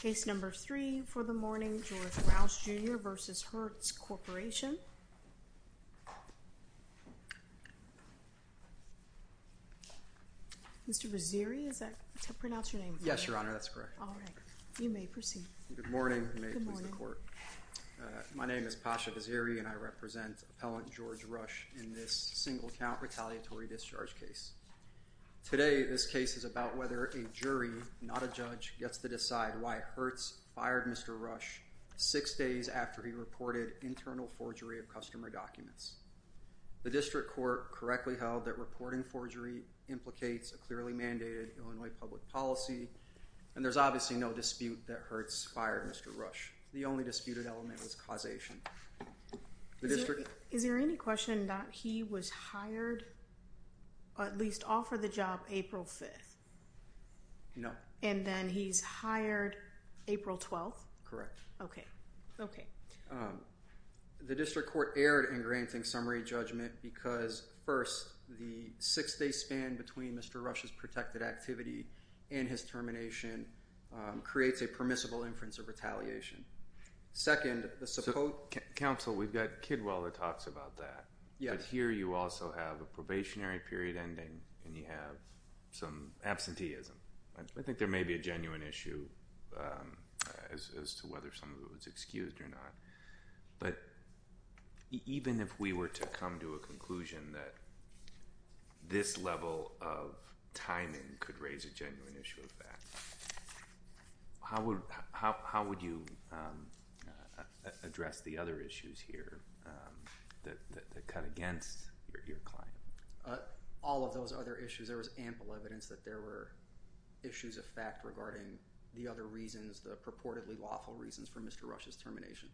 Case No. 3 for the morning, George Rausch, Jr. v. Hertz Corporation Mr. Razzeri, is that how to pronounce your name, correct? Yes, Your Honor, that's correct. Alright, you may proceed. Good morning. Good morning. My name is Pasha Razzeri, and I represent Appellant George Rausch in this single-count retaliatory discharge case. Today, this case is about whether a jury, not a judge, gets to decide why Hertz fired Mr. Rausch six days after he reported internal forgery of customer documents. The district court correctly held that reporting forgery implicates a clearly mandated Illinois public policy, and there's obviously no dispute that Hertz fired Mr. Rausch. The only disputed element was causation. Is there any question that he was hired, or at least offered the job April 5th? No. And then he's hired April 12th? Correct. Okay. Okay. The district court erred in granting summary judgment because, first, the six-day span between Mr. Rausch's protected activity and his termination creates a permissible inference of retaliation. Second, the support... Counsel, we've got Kidwell that talks about that. Yes. But here you also have a probationary period ending, and you have some absenteeism. I think there may be a genuine issue as to whether someone was excused or not. But even if we were to come to a conclusion that this level of timing could raise a genuine issue of that, how would you address the other issues here that cut against your client? All of those other issues. There was ample evidence that there were issues of fact regarding the other reasons, the purportedly lawful reasons for Mr. Rausch's termination.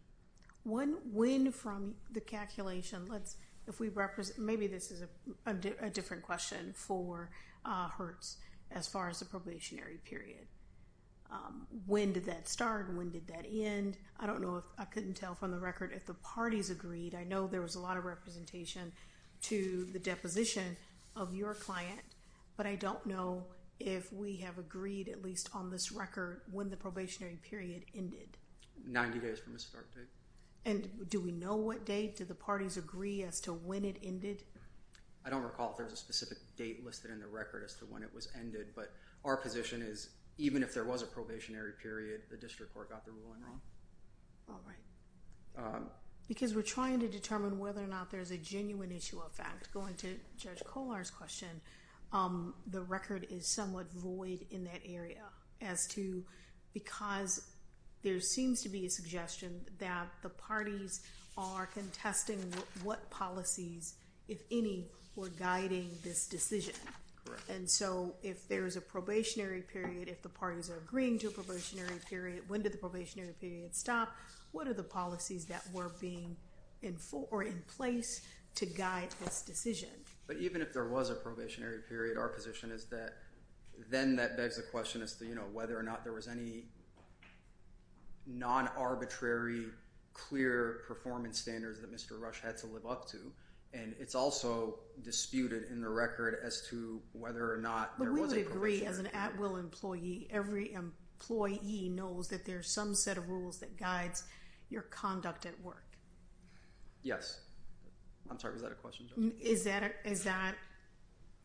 When from the calculation, let's... if we represent... maybe this is a different question for Hertz as far as the probationary period. When did that start? When did that end? I don't know if... I couldn't tell from the record if the parties agreed. I know there was a lot of representation to the deposition of your client, but I don't know if we have agreed, at least on this record, when the probationary period ended. Ninety days from the start date. And do we know what date? Do the parties agree as to when it ended? I don't recall if there's a specific date listed in the record as to when it was ended, but our position is even if there was a probationary period, the district court got the ruling wrong. All right. Because we're trying to determine whether or not there's a genuine issue of fact. Going to Judge Kollar's question, the record is somewhat void in that area as to... because there seems to be a suggestion that the parties are contesting what policies, if any, were guiding this decision. Correct. And so, if there's a probationary period, if the parties are agreeing to a probationary period, when did the probationary period stop? What are the policies that were being... or in place to guide this decision? But even if there was a probationary period, our position is that then that begs the question as to whether or not there was any non-arbitrary, clear performance standards that Mr. Rush had to live up to, and it's also disputed in the record as to whether or not there was But we would agree, as an at-will employee, every employee knows that there's some set of rules that guides your conduct at work. Yes. I'm sorry, was that a question, Judge? Is that...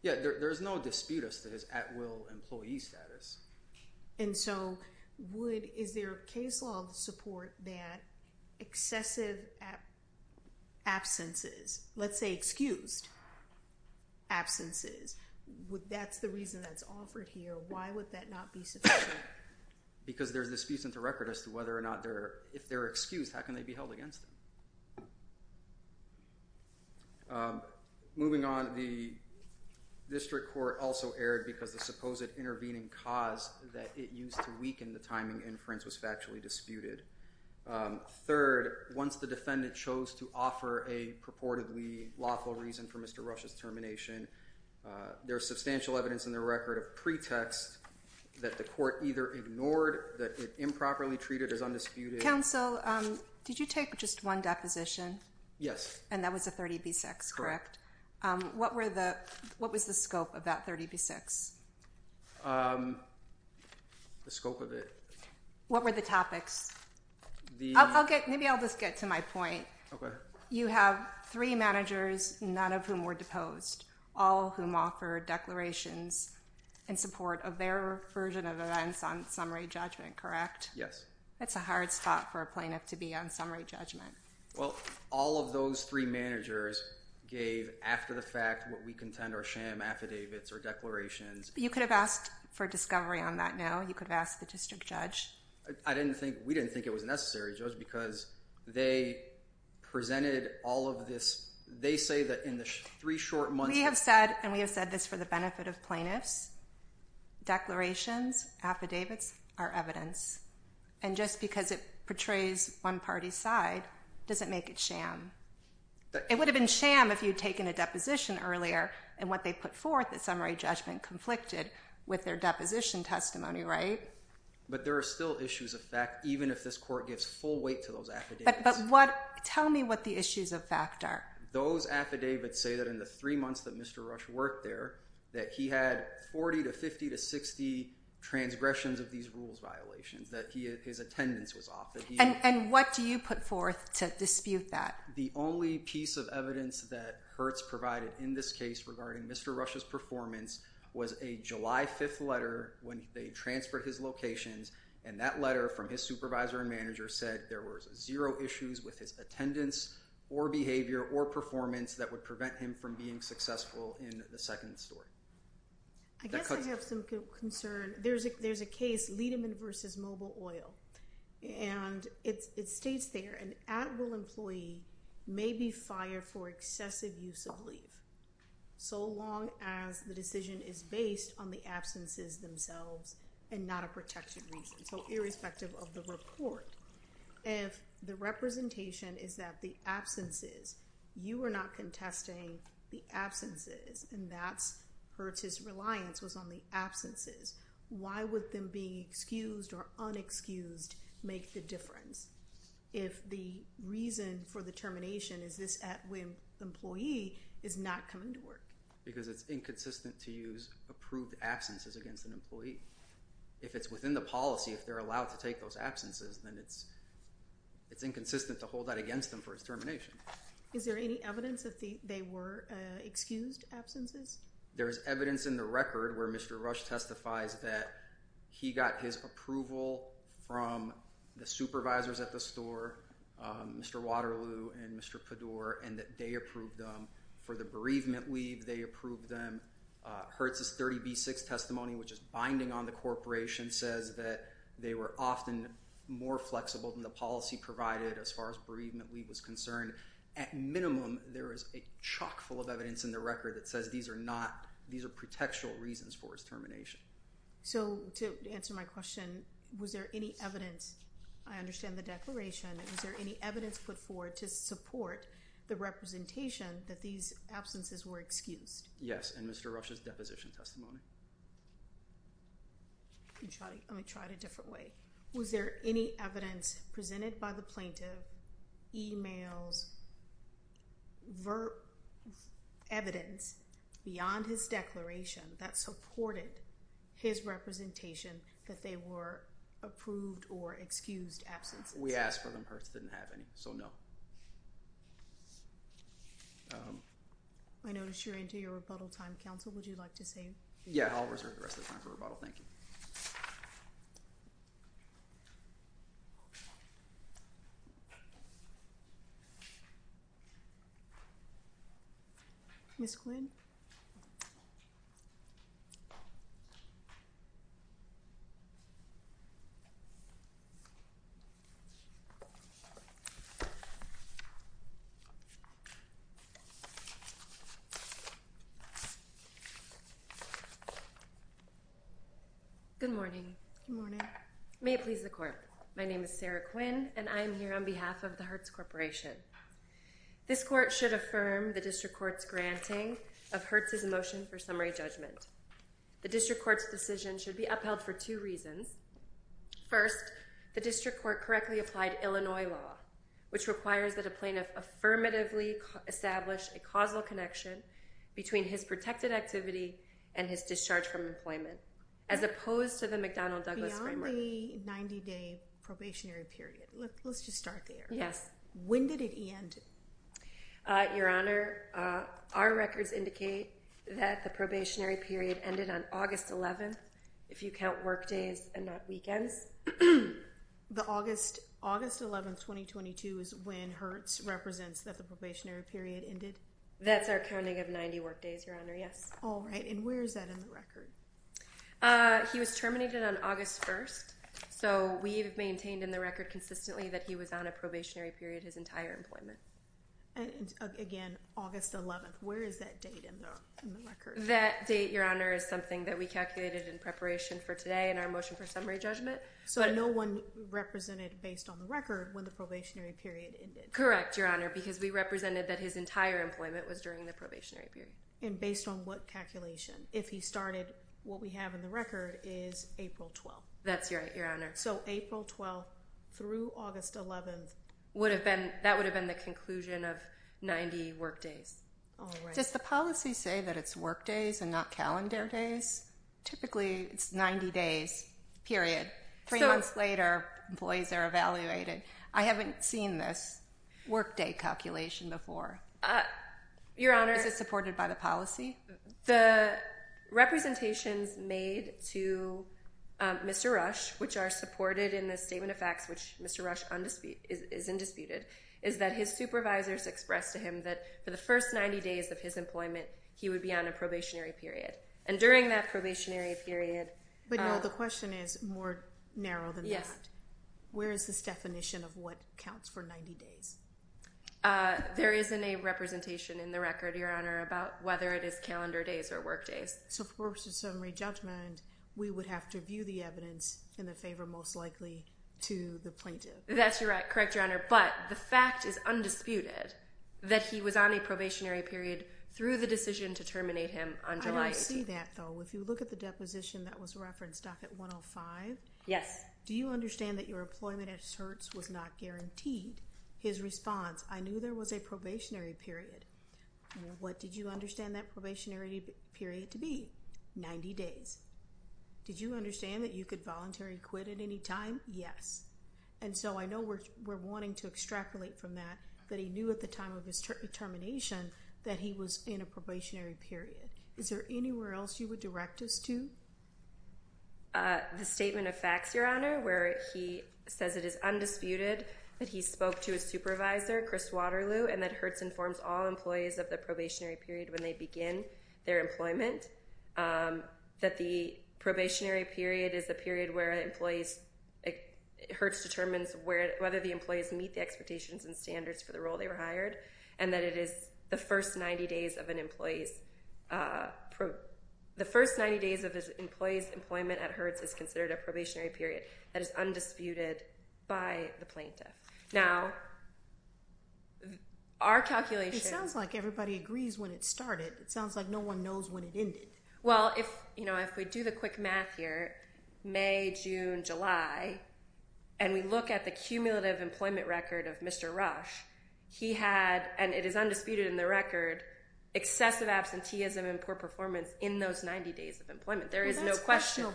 Yeah, there's no dispute as to his at-will employee status. And so, would... is there a case law to support that excessive absences, let's say excused absences, that's the reason that's offered here, why would that not be sufficient? Why? Because there's disputes in the record as to whether or not they're... if they're excused, how can they be held against them? Moving on, the district court also erred because the supposed intervening cause that it used to weaken the timing inference was factually disputed. Third, once the defendant chose to offer a purportedly lawful reason for Mr. Rush's termination, there's substantial evidence in the record of pretext that the court either ignored, that it improperly treated as undisputed... Counsel, did you take just one deposition? Yes. And that was the 30b-6, correct? Correct. What were the... what was the scope of that 30b-6? The scope of it... What were the topics? The... I'll get... maybe I'll just get to my point. Okay. You have three managers, none of whom were deposed, all of whom offered declarations in support of their version of events on summary judgment, correct? Yes. That's a hard spot for a plaintiff to be on summary judgment. Well, all of those three managers gave, after the fact, what we contend are sham affidavits or declarations. You could have asked for discovery on that now. You could have asked the district judge. I didn't think... we didn't think it was necessary, Judge, because they presented all of this... they say that in the three short months... We have said, and we have said this for the benefit of plaintiffs, declarations, affidavits are evidence. And just because it portrays one party's side doesn't make it sham. It would have been sham if you had taken a deposition earlier, and what they put forth at summary judgment conflicted with their deposition testimony, right? But there are still issues of fact, even if this court gives full weight to those affidavits. But what... tell me what the issues of fact are. Those affidavits say that in the three months that Mr. Rush worked there, that he had 40 to 50 to 60 transgressions of these rules violations, that his attendance was off, that he... And what do you put forth to dispute that? The only piece of evidence that Hertz provided in this case regarding Mr. Rush's performance was a July 5th letter when they transferred his locations, and that letter from his supervisor and manager said there was zero issues with his attendance or behavior or performance that would prevent him from being successful in the second story. I guess I have some concern. There's a case, Liedemann v. Mobile Oil, and it states there, an at-will employee may be required for excessive use of leave so long as the decision is based on the absences themselves and not a protected reason, so irrespective of the report. If the representation is that the absences... you are not contesting the absences, and that's... Hertz's reliance was on the absences. Why would them being excused or unexcused make the difference? If the reason for the termination is this at-will employee is not coming to work. Because it's inconsistent to use approved absences against an employee. If it's within the policy, if they're allowed to take those absences, then it's inconsistent to hold that against them for its termination. Is there any evidence that they were excused absences? There is evidence in the record where Mr. Rush testifies that he got his approval from the supervisors at the store, Mr. Waterloo and Mr. Padour, and that they approved them for the bereavement leave. They approved them. Hertz's 30B6 testimony, which is binding on the corporation, says that they were often more flexible than the policy provided as far as bereavement leave was concerned. At minimum, there is a chock full of evidence in the record that says these are not... these are protectural reasons for its termination. So, to answer my question, was there any evidence... I understand the declaration. Was there any evidence put forward to support the representation that these absences were excused? Yes, in Mr. Rush's deposition testimony. Let me try it a different way. Was there any evidence presented by the plaintiff, emails, verb... evidence beyond his declaration that supported his representation that they were approved or excused absences? We asked for them. Hertz didn't have any, so no. I notice you're into your rebuttal time. Counsel, would you like to say... Yeah, I'll reserve the rest of the time for rebuttal. Thank you. Ms. Quinn. Good morning. Good morning. May it please the Court, my name is Sarah Quinn and I am here on behalf of the Hertz Corporation. This Court should affirm the District Court's granting of Hertz's motion for summary judgment. The District Court's decision should be upheld for two reasons. First, the District Court correctly applied Illinois law, which requires that a plaintiff affirmatively establish a causal connection between his protected activity and his discharge from employment, as opposed to the McDonnell-Douglas framework. Beyond the 90-day probationary period. Let's just start there. Yes. When did it end? Your Honor, our records indicate that the probationary period ended on August 11th, if you count work days and not weekends. The August 11th, 2022 is when Hertz represents that the probationary period ended? That's our counting of 90 work days, Your Honor, yes. All right, and where is that in the record? He was terminated on August 1st, so we've maintained in the record consistently that he was on a probationary period his entire employment. And again, August 11th, where is that date in the record? That date, Your Honor, is something that we calculated in preparation for today in our motion for summary judgment. So no one represented based on the record when the probationary period ended? Correct, Your Honor, because we represented that his entire employment was during the probationary period. And based on what calculation? If he started, what we have in the record is April 12th. That's right, Your Honor. So April 12th through August 11th. That would have been the conclusion of 90 work days. Does the policy say that it's work days and not calendar days? Typically, it's 90 days, period. Three months later, employees are evaluated. I haven't seen this work day calculation before. Your Honor. Is it supported by the policy? The representations made to Mr. Rush, which are supported in the statement of facts, which Mr. Rush is indisputed, is that his supervisors expressed to him that for the first 90 days of his employment, he would be on a probationary period. And during that probationary period— But, no, the question is more narrow than that. Where is this definition of what counts for 90 days? There isn't a representation in the record, Your Honor, about whether it is calendar days or work days. So for a summary judgment, we would have to view the evidence in the favor most likely to the plaintiff. That's correct, Your Honor. But the fact is undisputed that he was on a probationary period through the decision to terminate him on July 8th. I don't see that, though. If you look at the deposition that was referenced, docket 105— Yes. Do you understand that your employment at Hertz was not guaranteed? His response, I knew there was a probationary period. What did you understand that probationary period to be? 90 days. Did you understand that you could voluntarily quit at any time? Yes. And so I know we're wanting to extrapolate from that that he knew at the time of his termination that he was in a probationary period. Is there anywhere else you would direct us to? The statement of facts, Your Honor, where he says it is undisputed that he spoke to his supervisor, Chris Waterloo, and that Hertz informs all employees of the probationary period when they begin their employment, that the probationary period is a period where Hertz determines whether the employees meet the expectations and standards for the role they were hired, and that it is the first 90 days of an employee's employment at Hertz is considered a probationary period. That is undisputed by the plaintiff. Now, our calculation— It sounds like everybody agrees when it started. It sounds like no one knows when it ended. Well, if we do the quick math here, May, June, July, and we look at the cumulative employment record of Mr. Rush, he had, and it is undisputed in the record, excessive absenteeism and poor performance in those 90 days of employment. There is no question.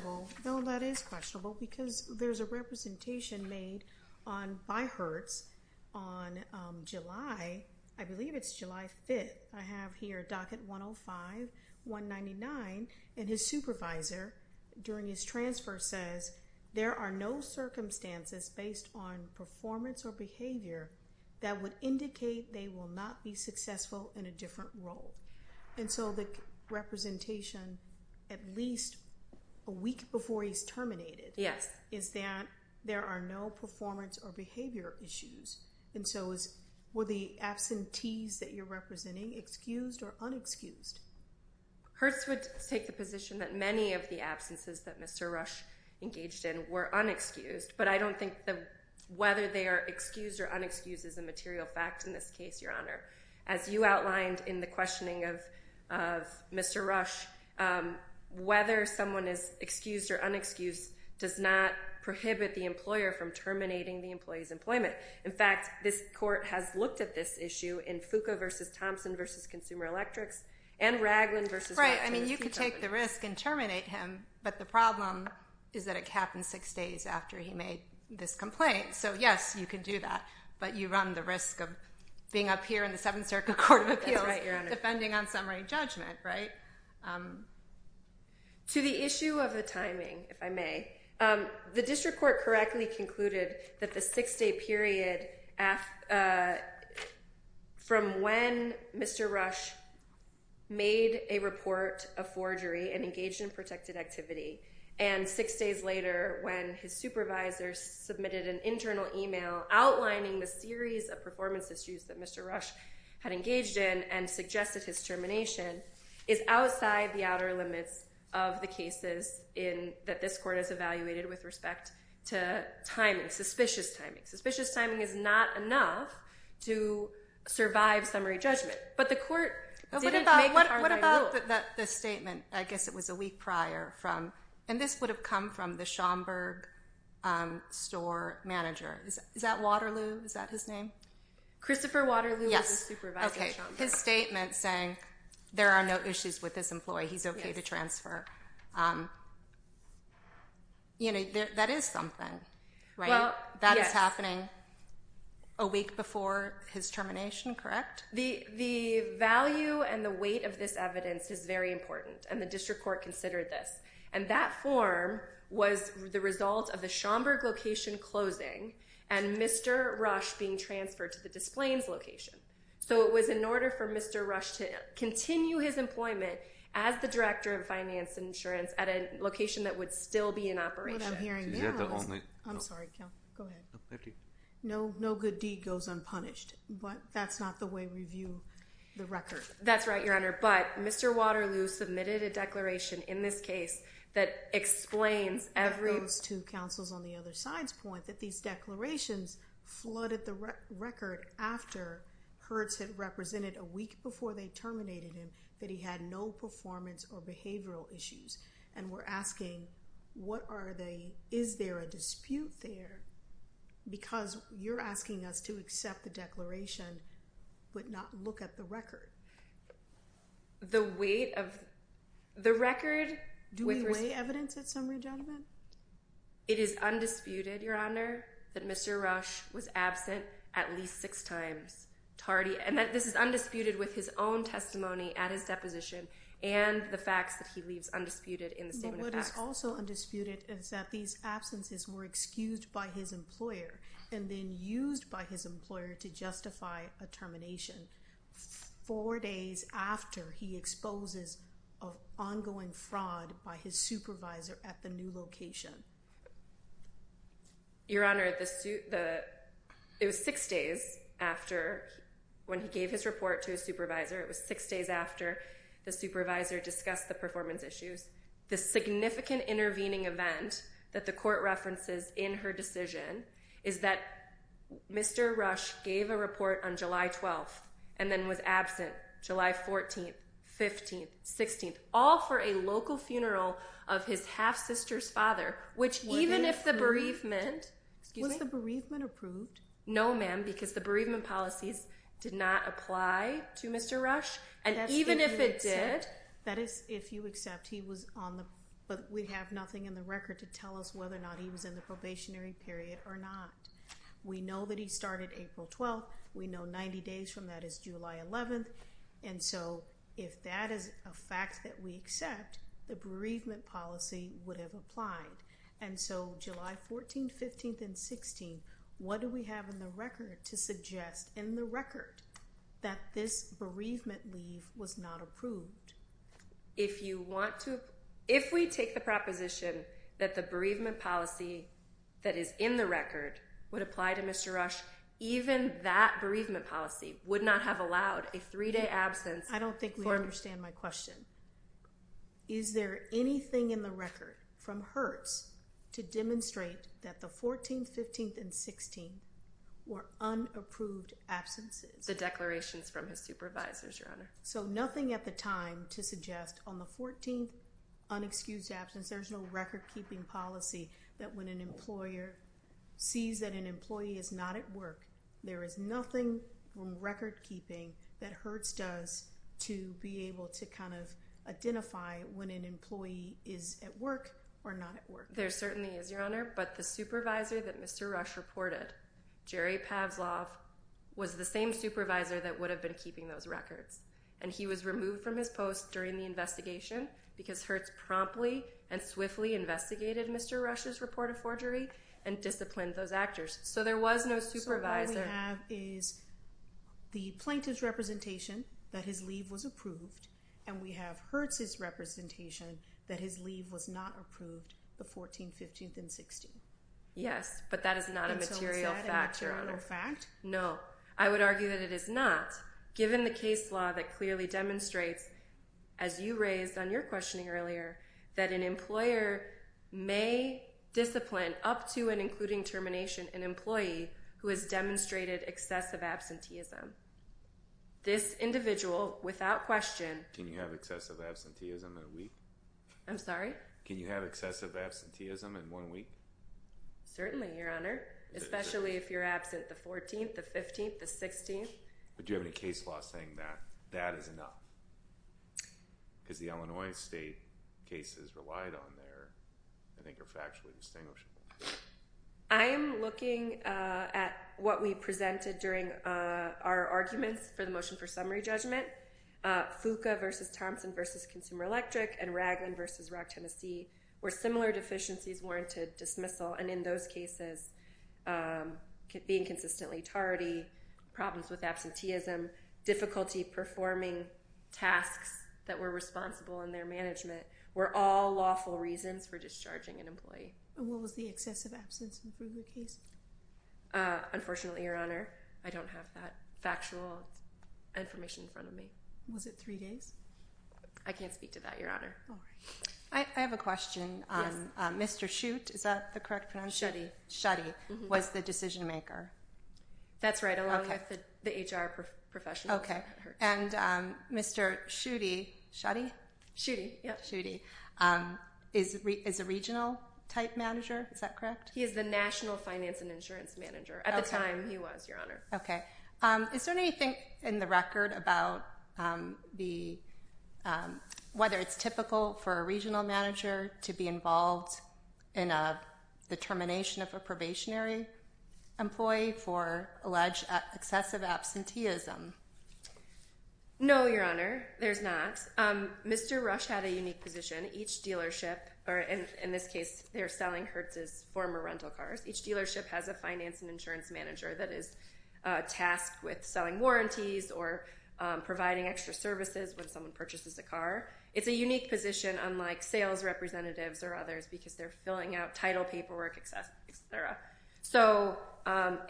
No, that is questionable because there's a representation made by Hertz on July—I believe it's July 5th. I have here docket 105, 199, and his supervisor during his transfer says, there are no circumstances based on performance or behavior that would indicate they will not be successful in a different role. And so the representation at least a week before he's terminated is that there are no performance or behavior issues. And so were the absentees that you're representing excused or unexcused? Hertz would take the position that many of the absences that Mr. Rush engaged in were unexcused, but I don't think that whether they are excused or unexcused is a material fact in this case, Your Honor. As you outlined in the questioning of Mr. Rush, whether someone is excused or unexcused does not prohibit the employer from terminating the employee's employment. In fact, this court has looked at this issue in Fuqua v. Thompson v. Consumer Electrics and Ragland v.— Right, I mean, you could take the risk and terminate him, but the problem is that it happened six days after he made this complaint. So, yes, you can do that, but you run the risk of being up here in the Seventh Circuit Court of Appeals— That's right, Your Honor. —defending on summary judgment, right? To the issue of the timing, if I may, the district court correctly concluded that the six-day period from when Mr. Rush made a report of forgery and engaged in protected activity and six days later when his supervisor submitted an internal email outlining the series of performance issues that Mr. Rush had engaged in and suggested his termination is outside the outer limits of the cases that this court has evaluated with respect to timing, suspicious timing. Suspicious timing is not enough to survive summary judgment, but the court didn't make a hard-line rule. Well, but the statement, I guess it was a week prior from—and this would have come from the Schomburg store manager. Is that Waterloo? Is that his name? Christopher Waterloo was the supervisor at Schomburg. Yes, okay, his statement saying there are no issues with this employee, he's okay to transfer. You know, that is something, right? Well, yes. That is happening a week before his termination, correct? The value and the weight of this evidence is very important, and the district court considered this. And that form was the result of the Schomburg location closing and Mr. Rush being transferred to the Des Plaines location. So it was in order for Mr. Rush to continue his employment as the director of finance and insurance at a location that would still be in operation. Is that the only— I'm sorry, go ahead. No good deed goes unpunished, but that's not the way we view the record. That's right, Your Honor, but Mr. Waterloo submitted a declaration in this case that explains every— That goes to counsel's on the other side's point, that these declarations flooded the record after Hertz had represented a week before they terminated him, that he had no performance or behavioral issues. And we're asking, what are they—is there a dispute there? Because you're asking us to accept the declaration but not look at the record. The weight of—the record— Do we weigh evidence at summary judgment? It is undisputed, Your Honor, that Mr. Rush was absent at least six times. And this is undisputed with his own testimony at his deposition and the facts that he leaves undisputed in the statement of facts. What is also undisputed is that these absences were excused by his employer and then used by his employer to justify a termination four days after he exposes ongoing fraud by his supervisor at the new location. Your Honor, the—it was six days after, when he gave his report to his supervisor, it was six days after the supervisor discussed the performance issues. The significant intervening event that the court references in her decision is that Mr. Rush gave a report on July 12th and then was absent July 14th, 15th, 16th, all for a local funeral of his half-sister's father, which even if the bereavement— Was the bereavement approved? No, ma'am, because the bereavement policies did not apply to Mr. Rush. And even if it did— That is, if you accept he was on the—but we have nothing in the record to tell us whether or not he was in the probationary period or not. We know that he started April 12th. We know 90 days from that is July 11th. And so if that is a fact that we accept, the bereavement policy would have applied. And so July 14th, 15th, and 16th, what do we have in the record to suggest in the record that this bereavement leave was not approved? If you want to—if we take the proposition that the bereavement policy that is in the record would apply to Mr. Rush, even that bereavement policy would not have allowed a three-day absence for— I don't think we understand my question. Is there anything in the record from Hertz to demonstrate that the 14th, 15th, and 16th were unapproved absences? The declarations from his supervisors, Your Honor. So nothing at the time to suggest on the 14th unexcused absence, there's no record-keeping policy that when an employer sees that an employee is not at work, there is nothing from record-keeping that Hertz does to be able to kind of identify when an employee is at work or not at work. There certainly is, Your Honor. But the supervisor that Mr. Rush reported, Jerry Pavlov, was the same supervisor that would have been keeping those records. And he was removed from his post during the investigation because Hertz promptly and swiftly investigated Mr. Rush's report of forgery and disciplined those actors. So there was no supervisor— And we have Hertz's representation that his leave was not approved the 14th, 15th, and 16th. Yes, but that is not a material fact, Your Honor. And so is that an external fact? No. I would argue that it is not, given the case law that clearly demonstrates, as you raised on your questioning earlier, that an employer may discipline up to and including termination an employee who has demonstrated excessive absenteeism. This individual, without question— Can you have excessive absenteeism in a week? I'm sorry? Can you have excessive absenteeism in one week? Certainly, Your Honor, especially if you're absent the 14th, the 15th, the 16th. But do you have any case law saying that that is enough? Because the Illinois state cases relied on there, I think, are factually distinguishable. I am looking at what we presented during our arguments for the motion for summary judgment. FUCA v. Thompson v. Consumer Electric and Raglan v. Rock, Tennessee were similar deficiencies warranted dismissal. And in those cases, being consistently tardy, problems with absenteeism, difficulty performing tasks that were responsible in their management, were all lawful reasons for discharging an employee. And what was the excessive absenteeism for the case? Unfortunately, Your Honor, I don't have that factual information in front of me. Was it three days? I can't speak to that, Your Honor. I have a question. Mr. Schutte, is that the correct pronunciation? Schutte was the decision maker. That's right, along with the HR professional. And Mr. Schutte is a regional type manager, is that correct? He is the national finance and insurance manager. At the time, he was, Your Honor. Okay. Is there anything in the record about whether it's typical for a regional manager to be involved in the termination of a probationary employee for alleged excessive absenteeism? No, Your Honor, there's not. Mr. Rush had a unique position. Each dealership, or in this case, they're selling Hertz's former rental cars. Each dealership has a finance and insurance manager that is tasked with selling warranties or providing extra services when someone purchases a car. It's a unique position, unlike sales representatives or others, because they're filling out title paperwork, et cetera.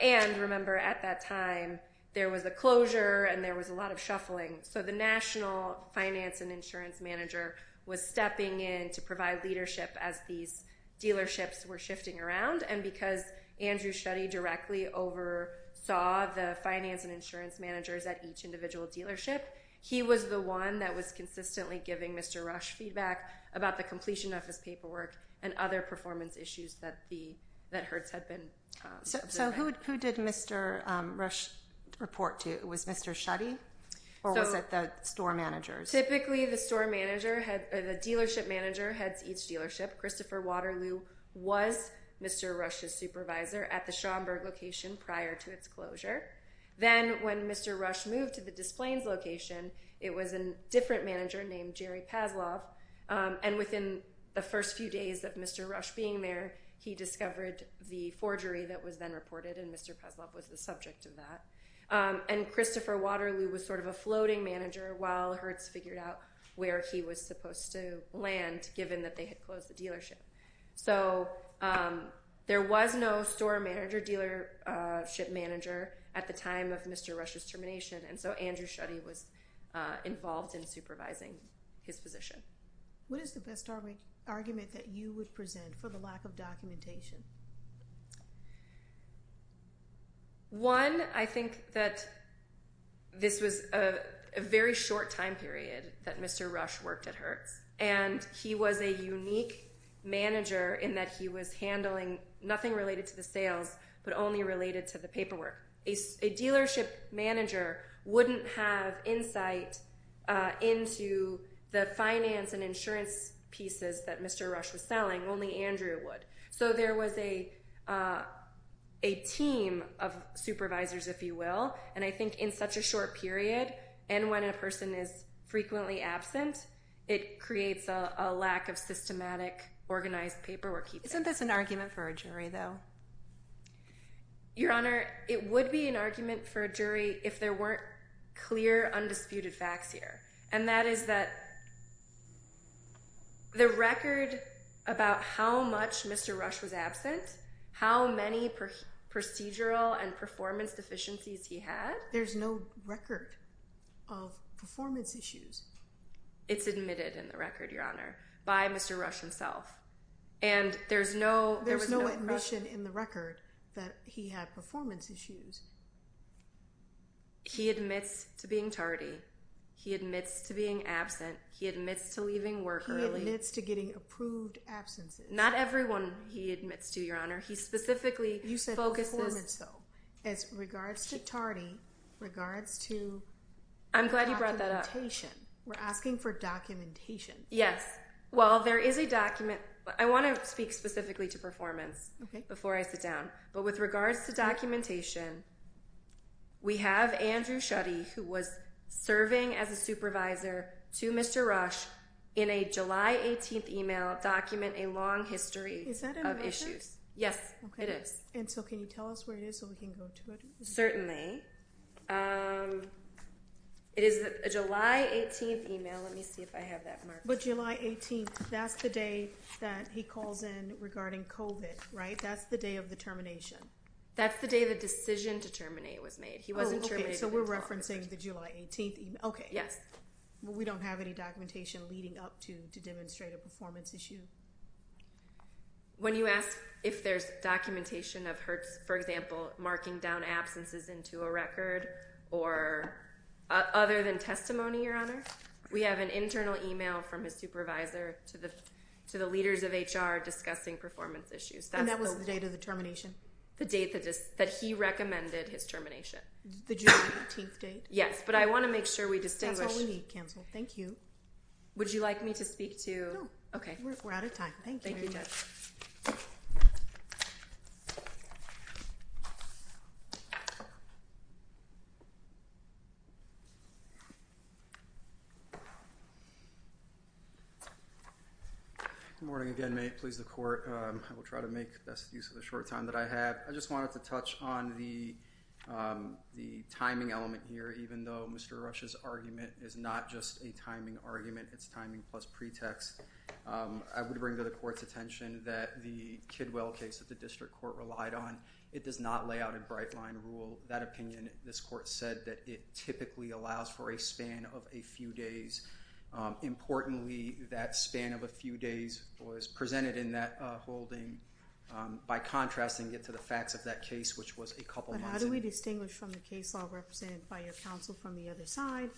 And remember, at that time, there was a closure and there was a lot of shuffling. So the national finance and insurance manager was stepping in to provide leadership as these dealerships were shifting around. And because Andrew Schutte directly oversaw the finance and insurance managers at each individual dealership, he was the one that was consistently giving Mr. Rush feedback about the completion of his paperwork and other performance issues that Hertz had been observing. So who did Mr. Rush report to? Was Mr. Schutte or was it the store managers? Typically, the dealership manager heads each dealership. Christopher Waterloo was Mr. Rush's supervisor at the Schaumburg location prior to its closure. Then when Mr. Rush moved to the Des Plaines location, it was a different manager named Jerry Paslov. And within the first few days of Mr. Rush being there, he discovered the forgery that was then reported, and Mr. Paslov was the subject of that. And Christopher Waterloo was sort of a floating manager while Hertz figured out where he was supposed to land, given that they had closed the dealership. So there was no store manager, dealership manager at the time of Mr. Rush's termination, and so Andrew Schutte was involved in supervising his position. What is the best argument that you would present for the lack of documentation? One, I think that this was a very short time period that Mr. Rush worked at Hertz, and he was a unique manager in that he was handling nothing related to the sales but only related to the paperwork. A dealership manager wouldn't have insight into the finance and insurance pieces that Mr. Rush was selling. Only Andrew would. So there was a team of supervisors, if you will, and I think in such a short period, and when a person is frequently absent, it creates a lack of systematic organized paperwork. Isn't this an argument for a jury, though? Your Honor, it would be an argument for a jury if there weren't clear, undisputed facts here. And that is that the record about how much Mr. Rush was absent, how many procedural and performance deficiencies he had… There's no record of performance issues. It's admitted in the record, Your Honor, by Mr. Rush himself. There's no admission in the record that he had performance issues. He admits to being tardy. He admits to being absent. He admits to leaving work early. He admits to getting approved absences. Not everyone he admits to, Your Honor. He specifically focuses… You said performance, though. As regards to tardy, regards to documentation. I'm glad you brought that up. We're asking for documentation. Yes. Well, there is a document. I want to speak specifically to performance before I sit down. But with regards to documentation, we have Andrew Schutte, who was serving as a supervisor to Mr. Rush, in a July 18th email document a long history of issues. Yes, it is. Okay. And so can you tell us where it is so we can go to it? Certainly. It is a July 18th email. Let me see if I have that marked. But July 18th, that's the day that he calls in regarding COVID, right? That's the day of the termination. That's the day the decision to terminate was made. He wasn't terminated. Oh, okay. So we're referencing the July 18th email. Okay. Yes. Well, we don't have any documentation leading up to demonstrate a performance issue. When you ask if there's documentation of her, for example, marking down absences into a record or other than testimony, Your Honor, we have an internal email from his supervisor to the leaders of HR discussing performance issues. And that was the date of the termination? The date that he recommended his termination. The July 18th date? Yes. But I want to make sure we distinguish. That's all we need, counsel. Thank you. Would you like me to speak to? No. Okay. We're out of time. Thank you. Thank you, Judge. Good morning again, mate. Please, the court. I will try to make best use of the short time that I have. I just wanted to touch on the timing element here, even though Mr. Rush's argument is not just a timing argument. It's timing plus pretext. I would bring to the court's attention that the Kidwell case that the district court relied on, it does not lay out a bright line rule. That opinion, this court said that it typically allows for a span of a few days. Importantly, that span of a few days was presented in that holding by contrasting it to the facts of that case, which was a couple months ago. How do we distinguish from the case law represented by your counsel from the other side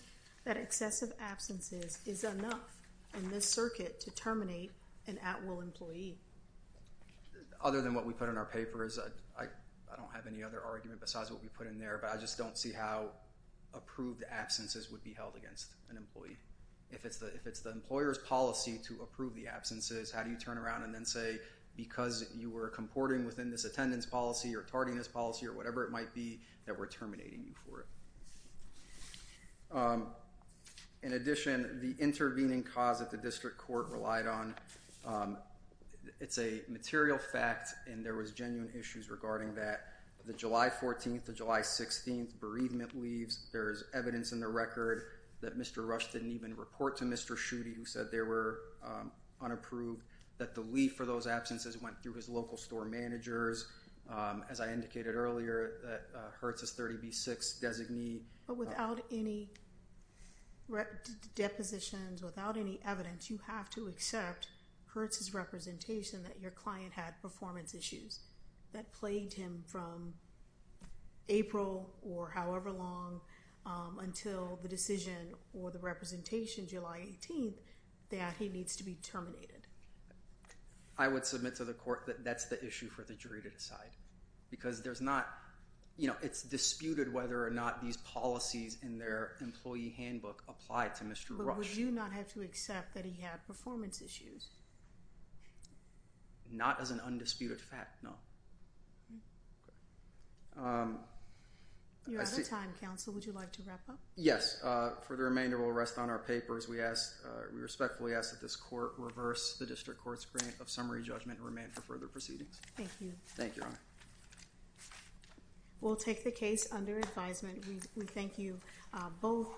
that excessive absences is enough in this circuit to terminate an at-will employee? Other than what we put in our papers, I don't have any other argument besides what we put in there, but I just don't see how approved absences would be held against an employee. If it's the employer's policy to approve the absences, how do you turn around and then say, because you were comporting within this attendance policy or targeting this policy or whatever it might be, that we're terminating you for it? In addition, the intervening cause that the district court relied on, it's a material fact, and there was genuine issues regarding that. The July 14th to July 16th bereavement leaves, there's evidence in the record that Mr. Rush didn't even report to Mr. Schutte, who said they were unapproved, that the leave for those absences went through his local store managers. As I indicated earlier, Hertz's 30B6 designee... But without any depositions, without any evidence, you have to accept Hertz's representation that your client had performance issues that plagued him from April or however long until the decision or the representation July 18th that he needs to be terminated. I would submit to the court that that's the issue for the jury to decide, because there's not... It's disputed whether or not these policies in their employee handbook apply to Mr. Rush. But would you not have to accept that he had performance issues? Not as an undisputed fact, no. You're out of time, counsel. Would you like to wrap up? Yes. For the remainder, we'll rest on our papers. We respectfully ask that this court reverse the district court's grant of summary judgment and remain for further proceedings. Thank you. Thank you, Your Honor. We'll take the case under advisement. We thank you both.